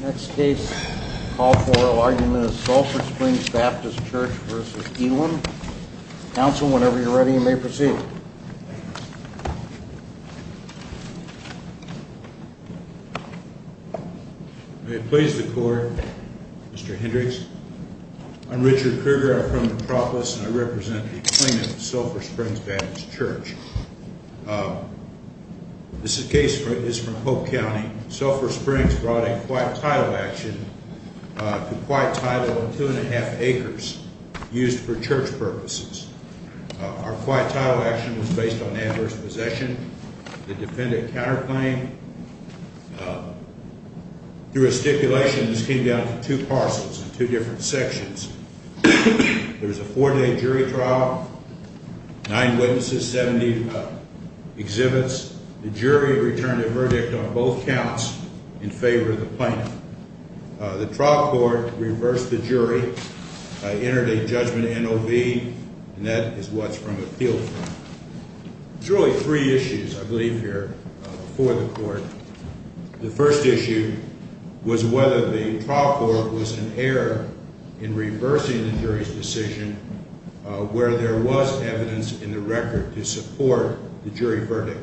Next case, call for oral argument of Sulphur Springs Baptist Church v. Elam. Counsel, whenever you're ready, you may proceed. May it please the court, Mr. Hendricks. I'm Richard Kruger, I'm from Metropolis, and I represent the plaintiff, Sulphur Springs Baptist Church. This case is from Hope County. Sulphur Springs brought a quiet title action to quiet title of 2 1⁄2 acres used for church purposes. Our quiet title action was based on adverse possession. The defendant counterclaimed through a stipulation. This came down to two parcels in two different sections. There was a four-day jury trial, nine witnesses, 70 exhibits. The jury returned a verdict on both counts in favor of the plaintiff. The trial court reversed the jury, entered a judgment NOV, and that is what's from appeal. There's really three issues, I believe here, for the court. The first issue was whether the trial court was in error in reversing the jury's decision where there was evidence in the record to support the jury verdict.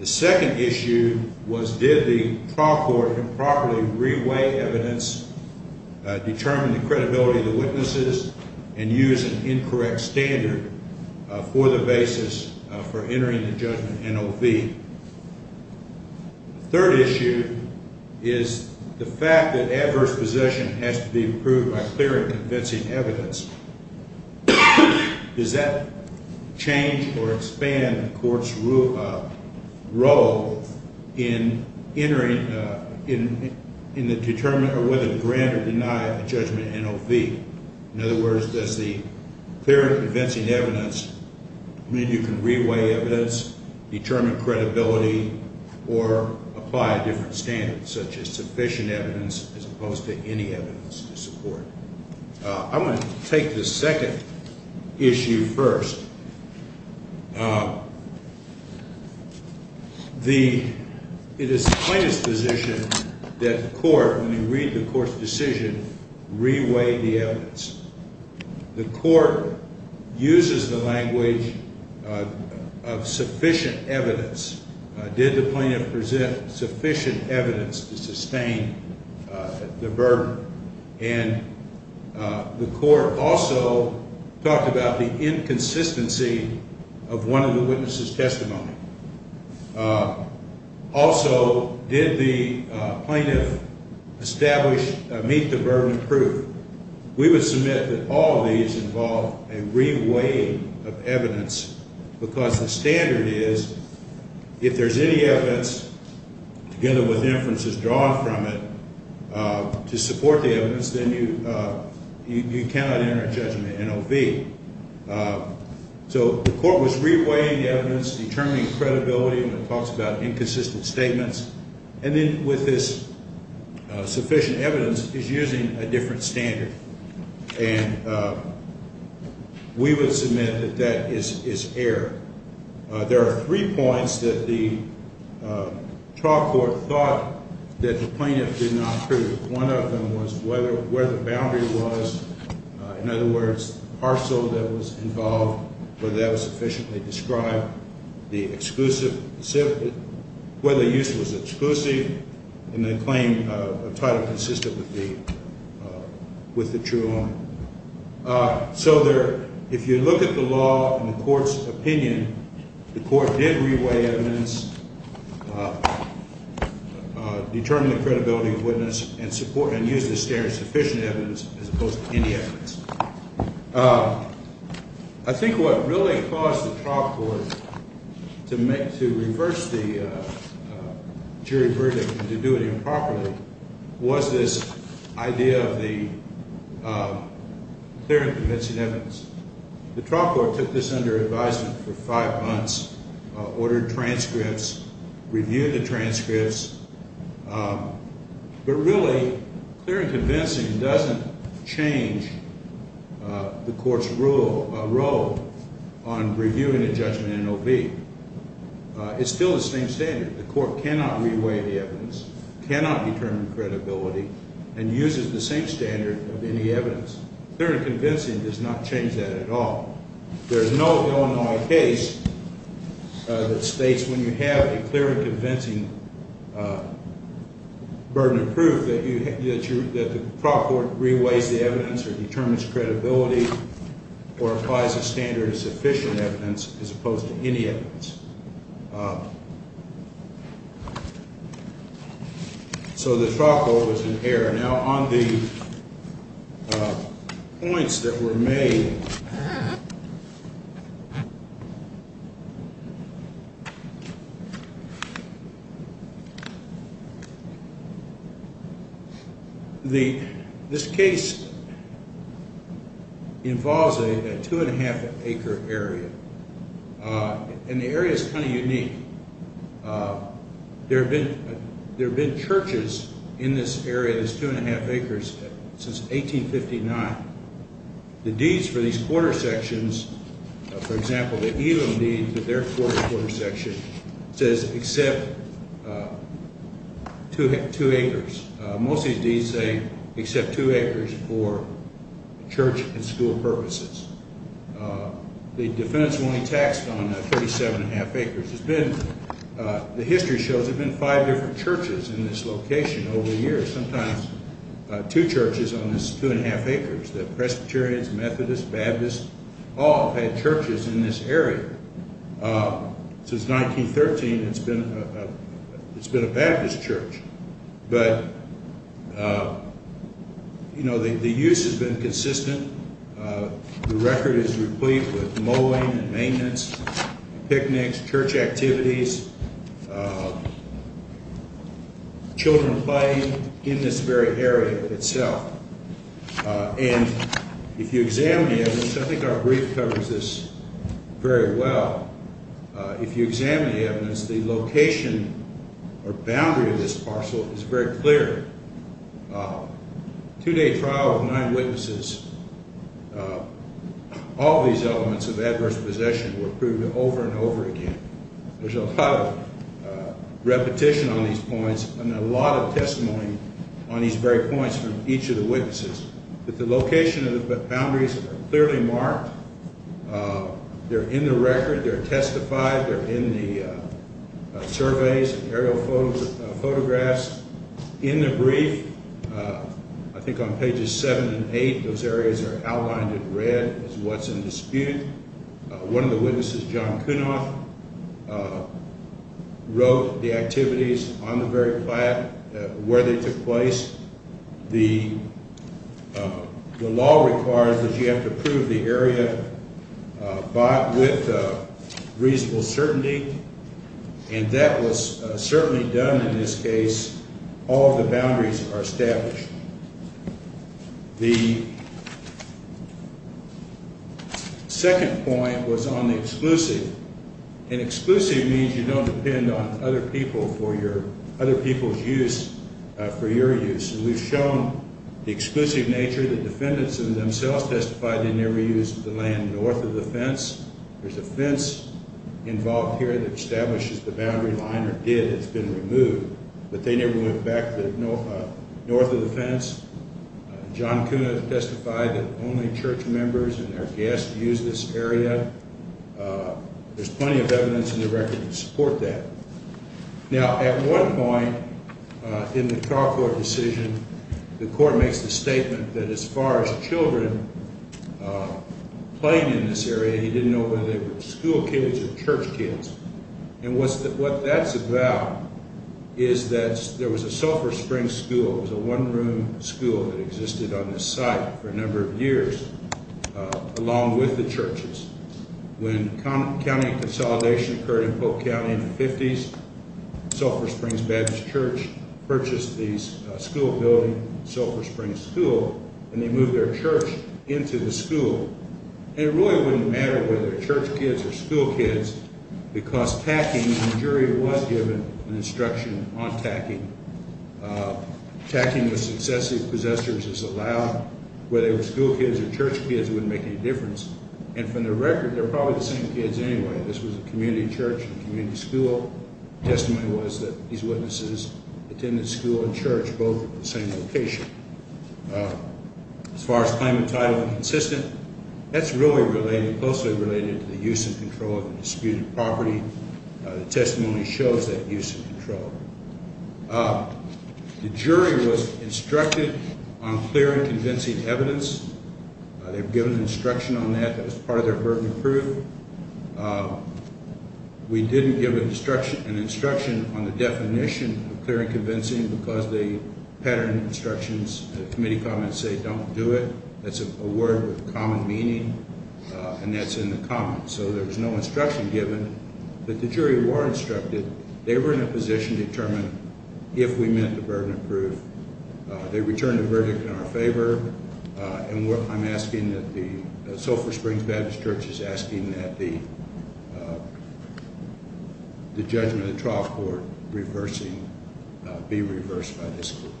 The second issue was did the trial court improperly re-weigh evidence, determine the credibility of the witnesses, and use an incorrect standard for the basis for entering the judgment NOV. The third issue is the fact that adverse possession has to be proved by clear and convincing evidence. Does that change or expand the court's role in entering, in the determination of whether to grant or deny a judgment NOV? In other words, does the clear and convincing evidence mean you can re-weigh evidence, determine credibility, or apply a different standard such as sufficient evidence as opposed to any evidence to support? I want to take the second issue first. It is the plaintiff's position that the court, when you read the court's decision, re-weigh the evidence. The court uses the language of sufficient evidence. Did the plaintiff present sufficient evidence to sustain the burden? And the court also talked about the inconsistency of one of the witnesses' testimony. Also, did the plaintiff establish, meet the burden of proof? We would submit that all of these involve a re-weighing of evidence because the standard is if there's any evidence, together with inferences drawn from it, to support the evidence, then you cannot enter a judgment NOV. So the court was re-weighing the evidence, determining credibility, and it talks about inconsistent statements, and then with this sufficient evidence is using a different standard. And we would submit that that is error. There are three points that the trial court thought that the plaintiff did not prove. One of them was where the boundary was. In other words, the parcel that was involved, whether that was sufficiently described, the exclusive, whether the use was exclusive, and the claim of title consistent with the true arm. So if you look at the law and the court's opinion, the court did re-weigh evidence, determine the credibility of witness, and use the standard of sufficient evidence as opposed to any evidence. I think what really caused the trial court to reverse the jury verdict and to do it improperly was this idea of the clear and convincing evidence. The trial court took this under advisement for five months, ordered transcripts, reviewed the transcripts, but really clear and convincing doesn't change the court's role on reviewing a judgment NOV. It's still the same standard. The court cannot re-weigh the evidence, cannot determine credibility, and uses the same standard of any evidence. Clear and convincing does not change that at all. There is no Illinois case that states when you have a clear and convincing burden of proof that the trial court re-weighs the evidence or determines credibility or applies a standard of sufficient evidence as opposed to any evidence. So the trial court was in error. Now, on the points that were made, this case involves a two-and-a-half acre area, and the area is kind of unique. There have been churches in this area, this two-and-a-half acres, since 1859. The deeds for these quarter sections, for example, the Elam deed for their quarter section, says except two acres. Most of these deeds say except two acres for church and school purposes. The defendant's only taxed on 37-and-a-half acres. The history shows there have been five different churches in this location over the years, sometimes two churches on this two-and-a-half acres. The Presbyterians, Methodists, Baptists, all had churches in this area. Since 1913, it's been a Baptist church. But, you know, the use has been consistent. The record is replete with mowing and maintenance, picnics, church activities, children playing in this very area itself. And if you examine the evidence, I think our brief covers this very well, if you examine the evidence, the location or boundary of this parcel is very clear. Two-day trial of nine witnesses. All these elements of adverse possession were proven over and over again. There's a lot of repetition on these points and a lot of testimony on these very points from each of the witnesses. But the location of the boundaries are clearly marked. They're in the record. They're testified. They're in the surveys and aerial photographs. In the brief, I think on pages seven and eight, those areas are outlined in red as what's in dispute. One of the witnesses, John Kunoth, wrote the activities on the very plaque where they took place. The law requires that you have to prove the area with reasonable certainty, and that was certainly done in this case. All of the boundaries are established. The second point was on the exclusive. And exclusive means you don't depend on other people's use for your use. And we've shown the exclusive nature. The defendants themselves testified they never used the land north of the fence. There's a fence involved here that establishes the boundary line or did. It's been removed. But they never went back north of the fence. John Kunoth testified that only church members and their guests used this area. There's plenty of evidence in the record to support that. Now, at one point in the trial court decision, the court makes the statement that as far as children playing in this area, he didn't know whether they were school kids or church kids. And what that's about is that there was a Sulphur Springs school. It was a one-room school that existed on this site for a number of years along with the churches. When county consolidation occurred in Polk County in the 50s, Sulphur Springs Baptist Church purchased the school building, Sulphur Springs School, and they moved their church into the school. And it really wouldn't matter whether they're church kids or school kids because tacking, the jury was given an instruction on tacking. Tacking with successive possessors is allowed. Whether they were school kids or church kids, it wouldn't make any difference. And from the record, they're probably the same kids anyway. This was a community church and community school. Testimony was that these witnesses attended school and church both at the same location. As far as claimant title inconsistent, that's really related, closely related to the use and control of the disputed property. The testimony shows that use and control. The jury was instructed on clear and convincing evidence. They were given instruction on that. That was part of their burden of proof. Pattern instructions, the committee comments say don't do it. That's a word with common meaning, and that's in the comments. So there's no instruction given. But the jury were instructed. They were in a position to determine if we meant the burden of proof. They returned a verdict in our favor. And I'm asking that the Sulphur Springs Baptist Church is asking that the judgment Reversing be reversed by this group.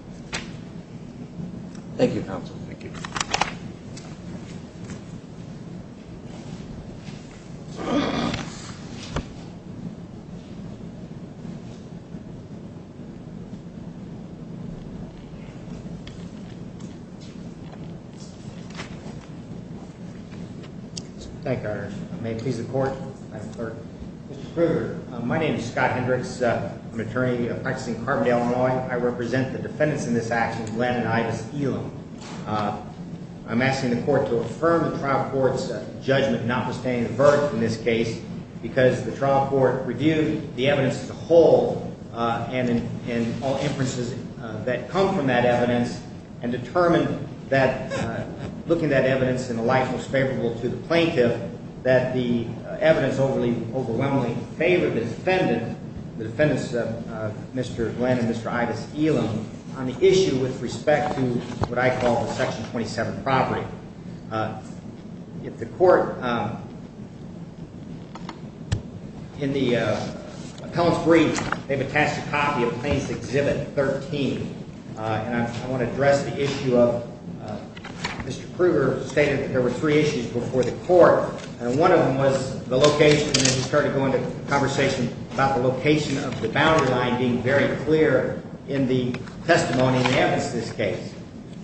Thank you. Thank you. Thank you. May please the court. My name is Scott Hendricks. I'm attorney practicing Carbondale, Illinois. I represent the defendants in this action. I'm asking the court to affirm the trial court's judgment not sustaining a verdict in this case because the trial court reviewed the evidence to hold and all inferences that come from that evidence and determined that looking that evidence in the light most favorable to the plaintiff that the evidence overly overwhelmingly favor this defendant. The defendants, Mr. Glenn and Mr. Itis Elam on the issue with respect to what I call the Section 27 property. If the court. In the appellant's brief, they've attached a copy of Plaintiff's Exhibit 13. And I want to address the issue of Mr. Kruger stated there were three issues before the court. And one of them was the location. And he started going to conversation about the location of the boundary line being very clear in the testimony. And that was this case.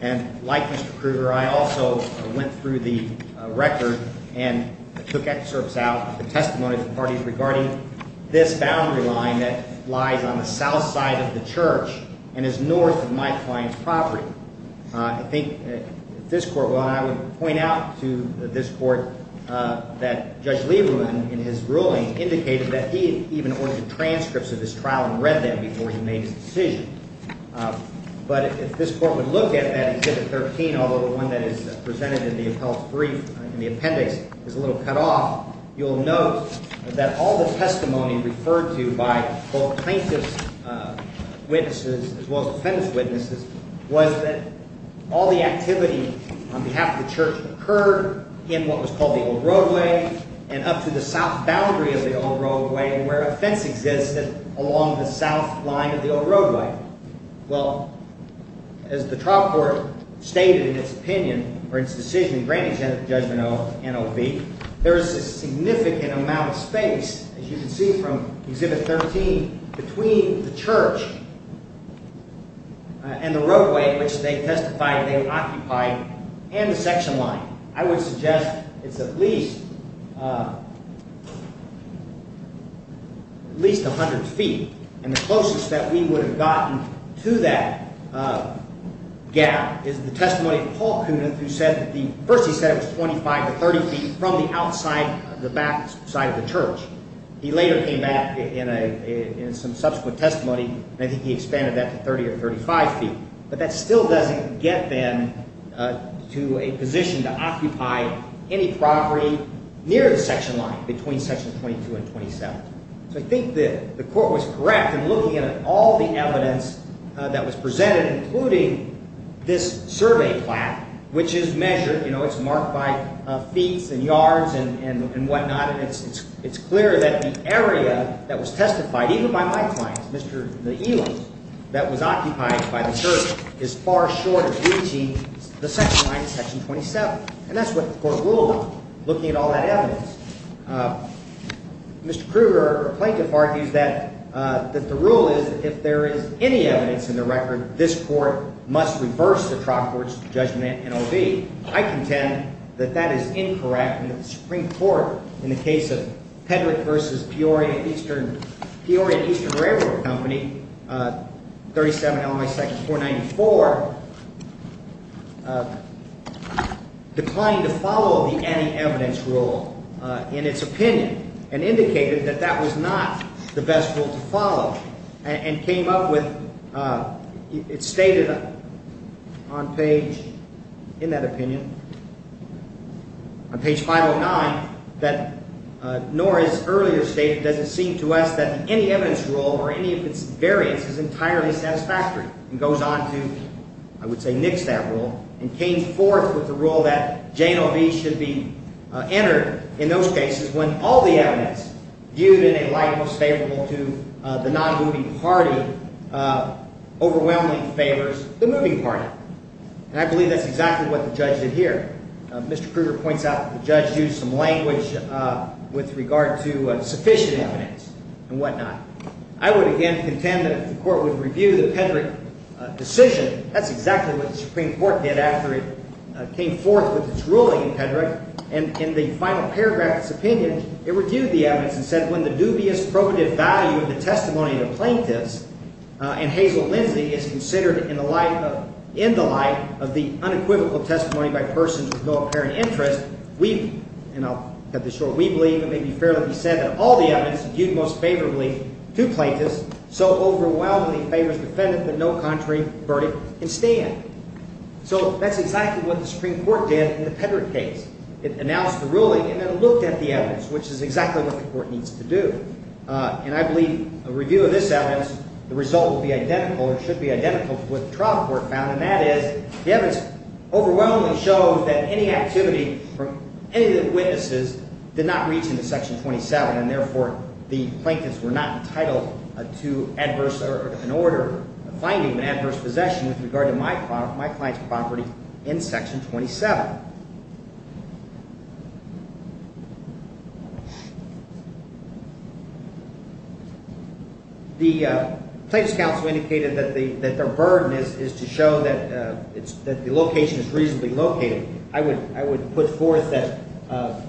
And like Mr. Kruger, I also went through the record and took excerpts out. Testimony from parties regarding this boundary line that lies on the south side of the church and is north of my client's property. I think this court. Well, I would point out to this court that Judge Lieberman, in his ruling, indicated that he even ordered transcripts of this trial and read them before he made his decision. But if this court would look at that Exhibit 13, although the one that is presented in the appellant's brief, in the appendix, is a little cut off, you'll note that all the testimony referred to by both plaintiff's witnesses as well as defendant's witnesses was that all the activity on behalf of the church occurred in what was called the Old Roadway and up to the south boundary of the Old Roadway where a fence existed along the south line of the Old Roadway. Well, as the trial court stated in its opinion or its decision granting judgment of NOV, there is a significant amount of space, as you can see from Exhibit 13, between the church and the roadway, which they testified they occupied, and the section line. I would suggest it's at least 100 feet. And the closest that we would have gotten to that gap is the testimony of Paul Kunith, who said that first he said it was 25 to 30 feet from the outside, the back side of the church. He later came back in some subsequent testimony, and I think he expanded that to 30 or 35 feet. But that still doesn't get them to a position to occupy any property near the section line between Sections 22 and 27. So I think the court was correct in looking at all the evidence that was presented, including this survey plaque, which is measured, you know, it's marked by feet and yards and whatnot, and it's clear that the area that was testified, even by my clients, Mr. Eland, that was occupied by the church is far short of reaching the section line in Section 27. And that's what the court ruled on, looking at all that evidence. Mr. Kruger, a plaintiff, argues that the rule is that if there is any evidence in the record, this court must reverse the trial court's judgment in NOV. I contend that that is incorrect, and that the Supreme Court, in the case of Hedrick v. Peoria and Eastern Railroad Company, 37 LMI section 494, declined to follow the any evidence rule in its opinion and indicated that that was not the best rule to follow and came up with, it stated on page, in that opinion, on page 509, that, nor is earlier stated, does it seem to us that any evidence rule or any of its variants is entirely satisfactory, and goes on to, I would say, nix that rule and came forth with the rule that JNOV should be entered in those cases when all the evidence viewed in a light most favorable to the non-moving party overwhelmingly favors the moving party. And I believe that's exactly what the judge did here. Mr. Kruger points out that the judge used some language with regard to sufficient evidence and whatnot. I would, again, contend that if the court would review the Hedrick decision, that's exactly what the Supreme Court did after it came forth with its ruling in Hedrick. And in the final paragraph of its opinion, it reviewed the evidence and said, when the dubious probative value of the testimony of the plaintiffs and Hazel Lindsay is considered in the light of the unequivocal testimony by persons with no apparent interest, we've, and I'll cut this short, we believe it may be fair to say that all the evidence viewed most favorably to plaintiffs so overwhelmingly favors the defendant that no contrary verdict can stand. So that's exactly what the Supreme Court did in the Hedrick case. It announced the ruling and then looked at the evidence, which is exactly what the court needs to do. And I believe a review of this evidence, the result will be identical or should be identical to what the trial court found, and that is the evidence overwhelmingly shows that any activity from any of the witnesses did not reach into Section 27, and therefore the plaintiffs were not entitled to adverse, or an order finding an adverse possession with regard to my client's property in Section 27. The Plaintiffs' Counsel indicated that their burden is to show that the location is reasonably located. I would put forth that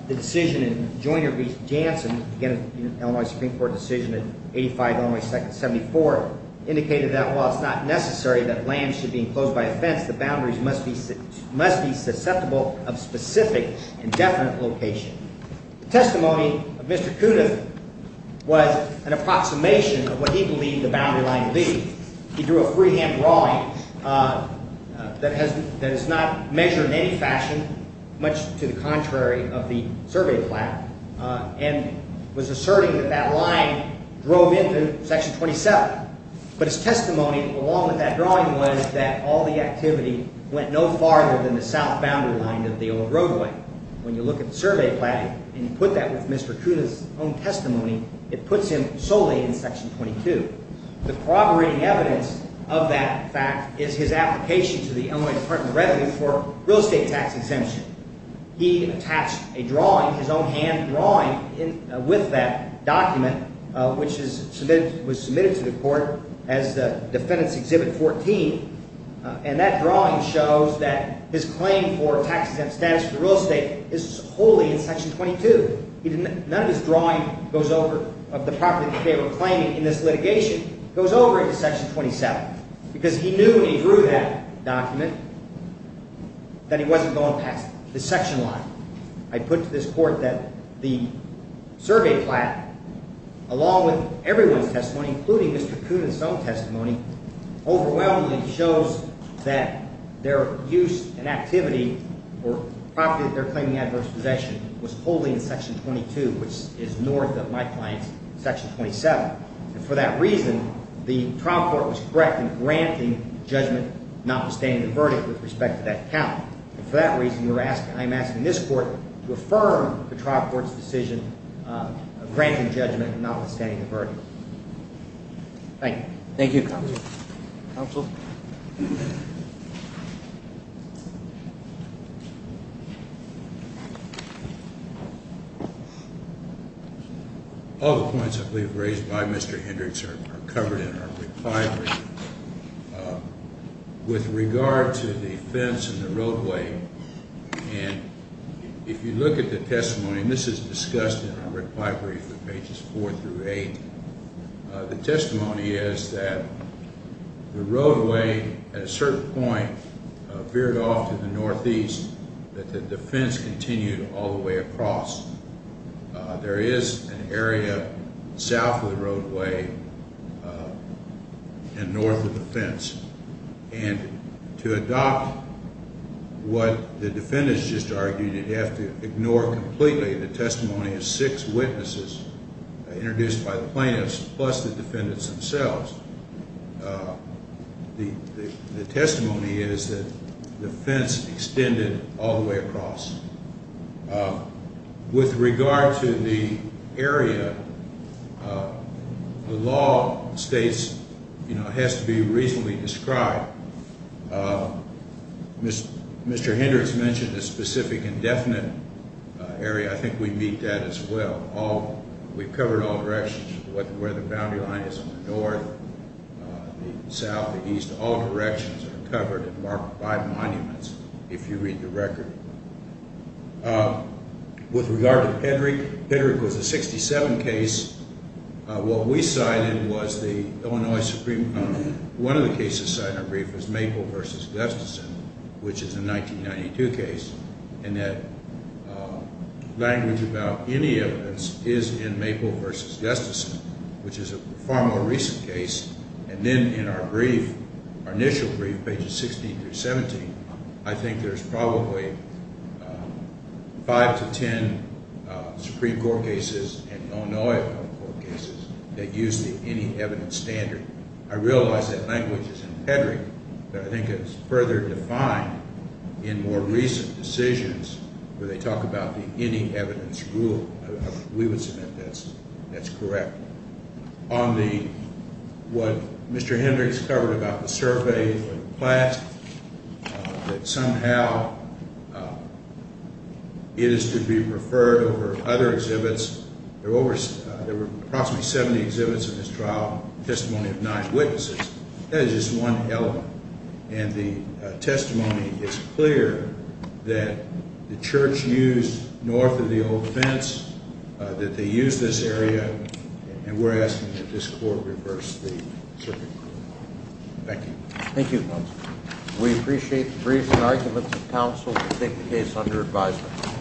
the decision in Joyner v. Jansen, again an Illinois Supreme Court decision in 85, Illinois 2nd, 74, indicated that while it's not necessary that land should be enclosed by a fence, the boundaries must be susceptible of specific indefinite location. The testimony of Mr. Kuda was an approximation of what he believed the boundary line to be. He drew a freehand drawing that is not measured in any fashion, much to the contrary of the survey plaque, and was asserting that that line drove into Section 27. But his testimony, along with that drawing, was that all the activity went no farther than the south boundary line of the old roadway. When you look at the survey plaque and you put that with Mr. Kuda's own testimony, it puts him solely in Section 22. The corroborating evidence of that fact is his application to the Illinois Department of Revenue for real estate tax exemption. He attached a drawing, his own hand drawing, with that document, which was submitted to the court as Defendant's Exhibit 14. And that drawing shows that his claim for tax-exempt status for real estate is wholly in Section 22. None of his drawing of the property that they were claiming in this litigation goes over into Section 27, because he knew when he drew that document that he wasn't going past the section line. I put to this court that the survey plaque, along with everyone's testimony, including Mr. Kuda's own testimony, overwhelmingly shows that their use and activity or property that they're claiming adverse possession was wholly in Section 22, which is north of my client's Section 27. And for that reason, the trial court was correct in granting judgment notwithstanding the verdict with respect to that count. And for that reason, I am asking this court to affirm the trial court's decision of granting judgment notwithstanding the verdict. Thank you. Thank you, Counsel. Counsel? All the points I believe raised by Mr. Hendricks are covered in our reply brief. With regard to the fence and the roadway, and if you look at the testimony, and this is discussed in our reply brief at pages 4 through 8, the testimony is that the roadway, at a certain point, veered off to the northeast, but the fence continued all the way across. There is an area south of the roadway and north of the fence. And to adopt what the defendants just argued, you'd have to ignore completely the testimony of six witnesses introduced by the plaintiffs plus the defendants themselves. The testimony is that the fence extended all the way across. With regard to the area, the law states it has to be reasonably described. Mr. Hendricks mentioned a specific indefinite area. I think we meet that as well. We've covered all directions, where the boundary line is in the north, the south, the east. All directions are covered and marked by monuments, if you read the record. With regard to Hendrick, Hendrick was a 67 case. What we cited was the Illinois Supreme Court. One of the cases cited in our brief was Maple v. Gustafson, which is a 1992 case, and that language about any evidence is in Maple v. Gustafson, which is a far more recent case. And then in our brief, our initial brief, pages 16 through 17, I think there's probably five to ten Supreme Court cases and Illinois Supreme Court cases that use the any evidence standard. I realize that language is in Hendrick, but I think it's further defined in more recent decisions, where they talk about the any evidence rule. We would submit that that's correct. On the, what Mr. Hendricks covered about the surface and the plasque, that somehow it is to be preferred over other exhibits. There were approximately 70 exhibits in this trial, testimony of nine witnesses. That is just one element. And the testimony is clear that the church used north of the old fence, that they used this area, and we're asking that this court reverse the circuit. Thank you. Thank you, counsel. We appreciate the briefs and arguments of counsel to take the case under advisement.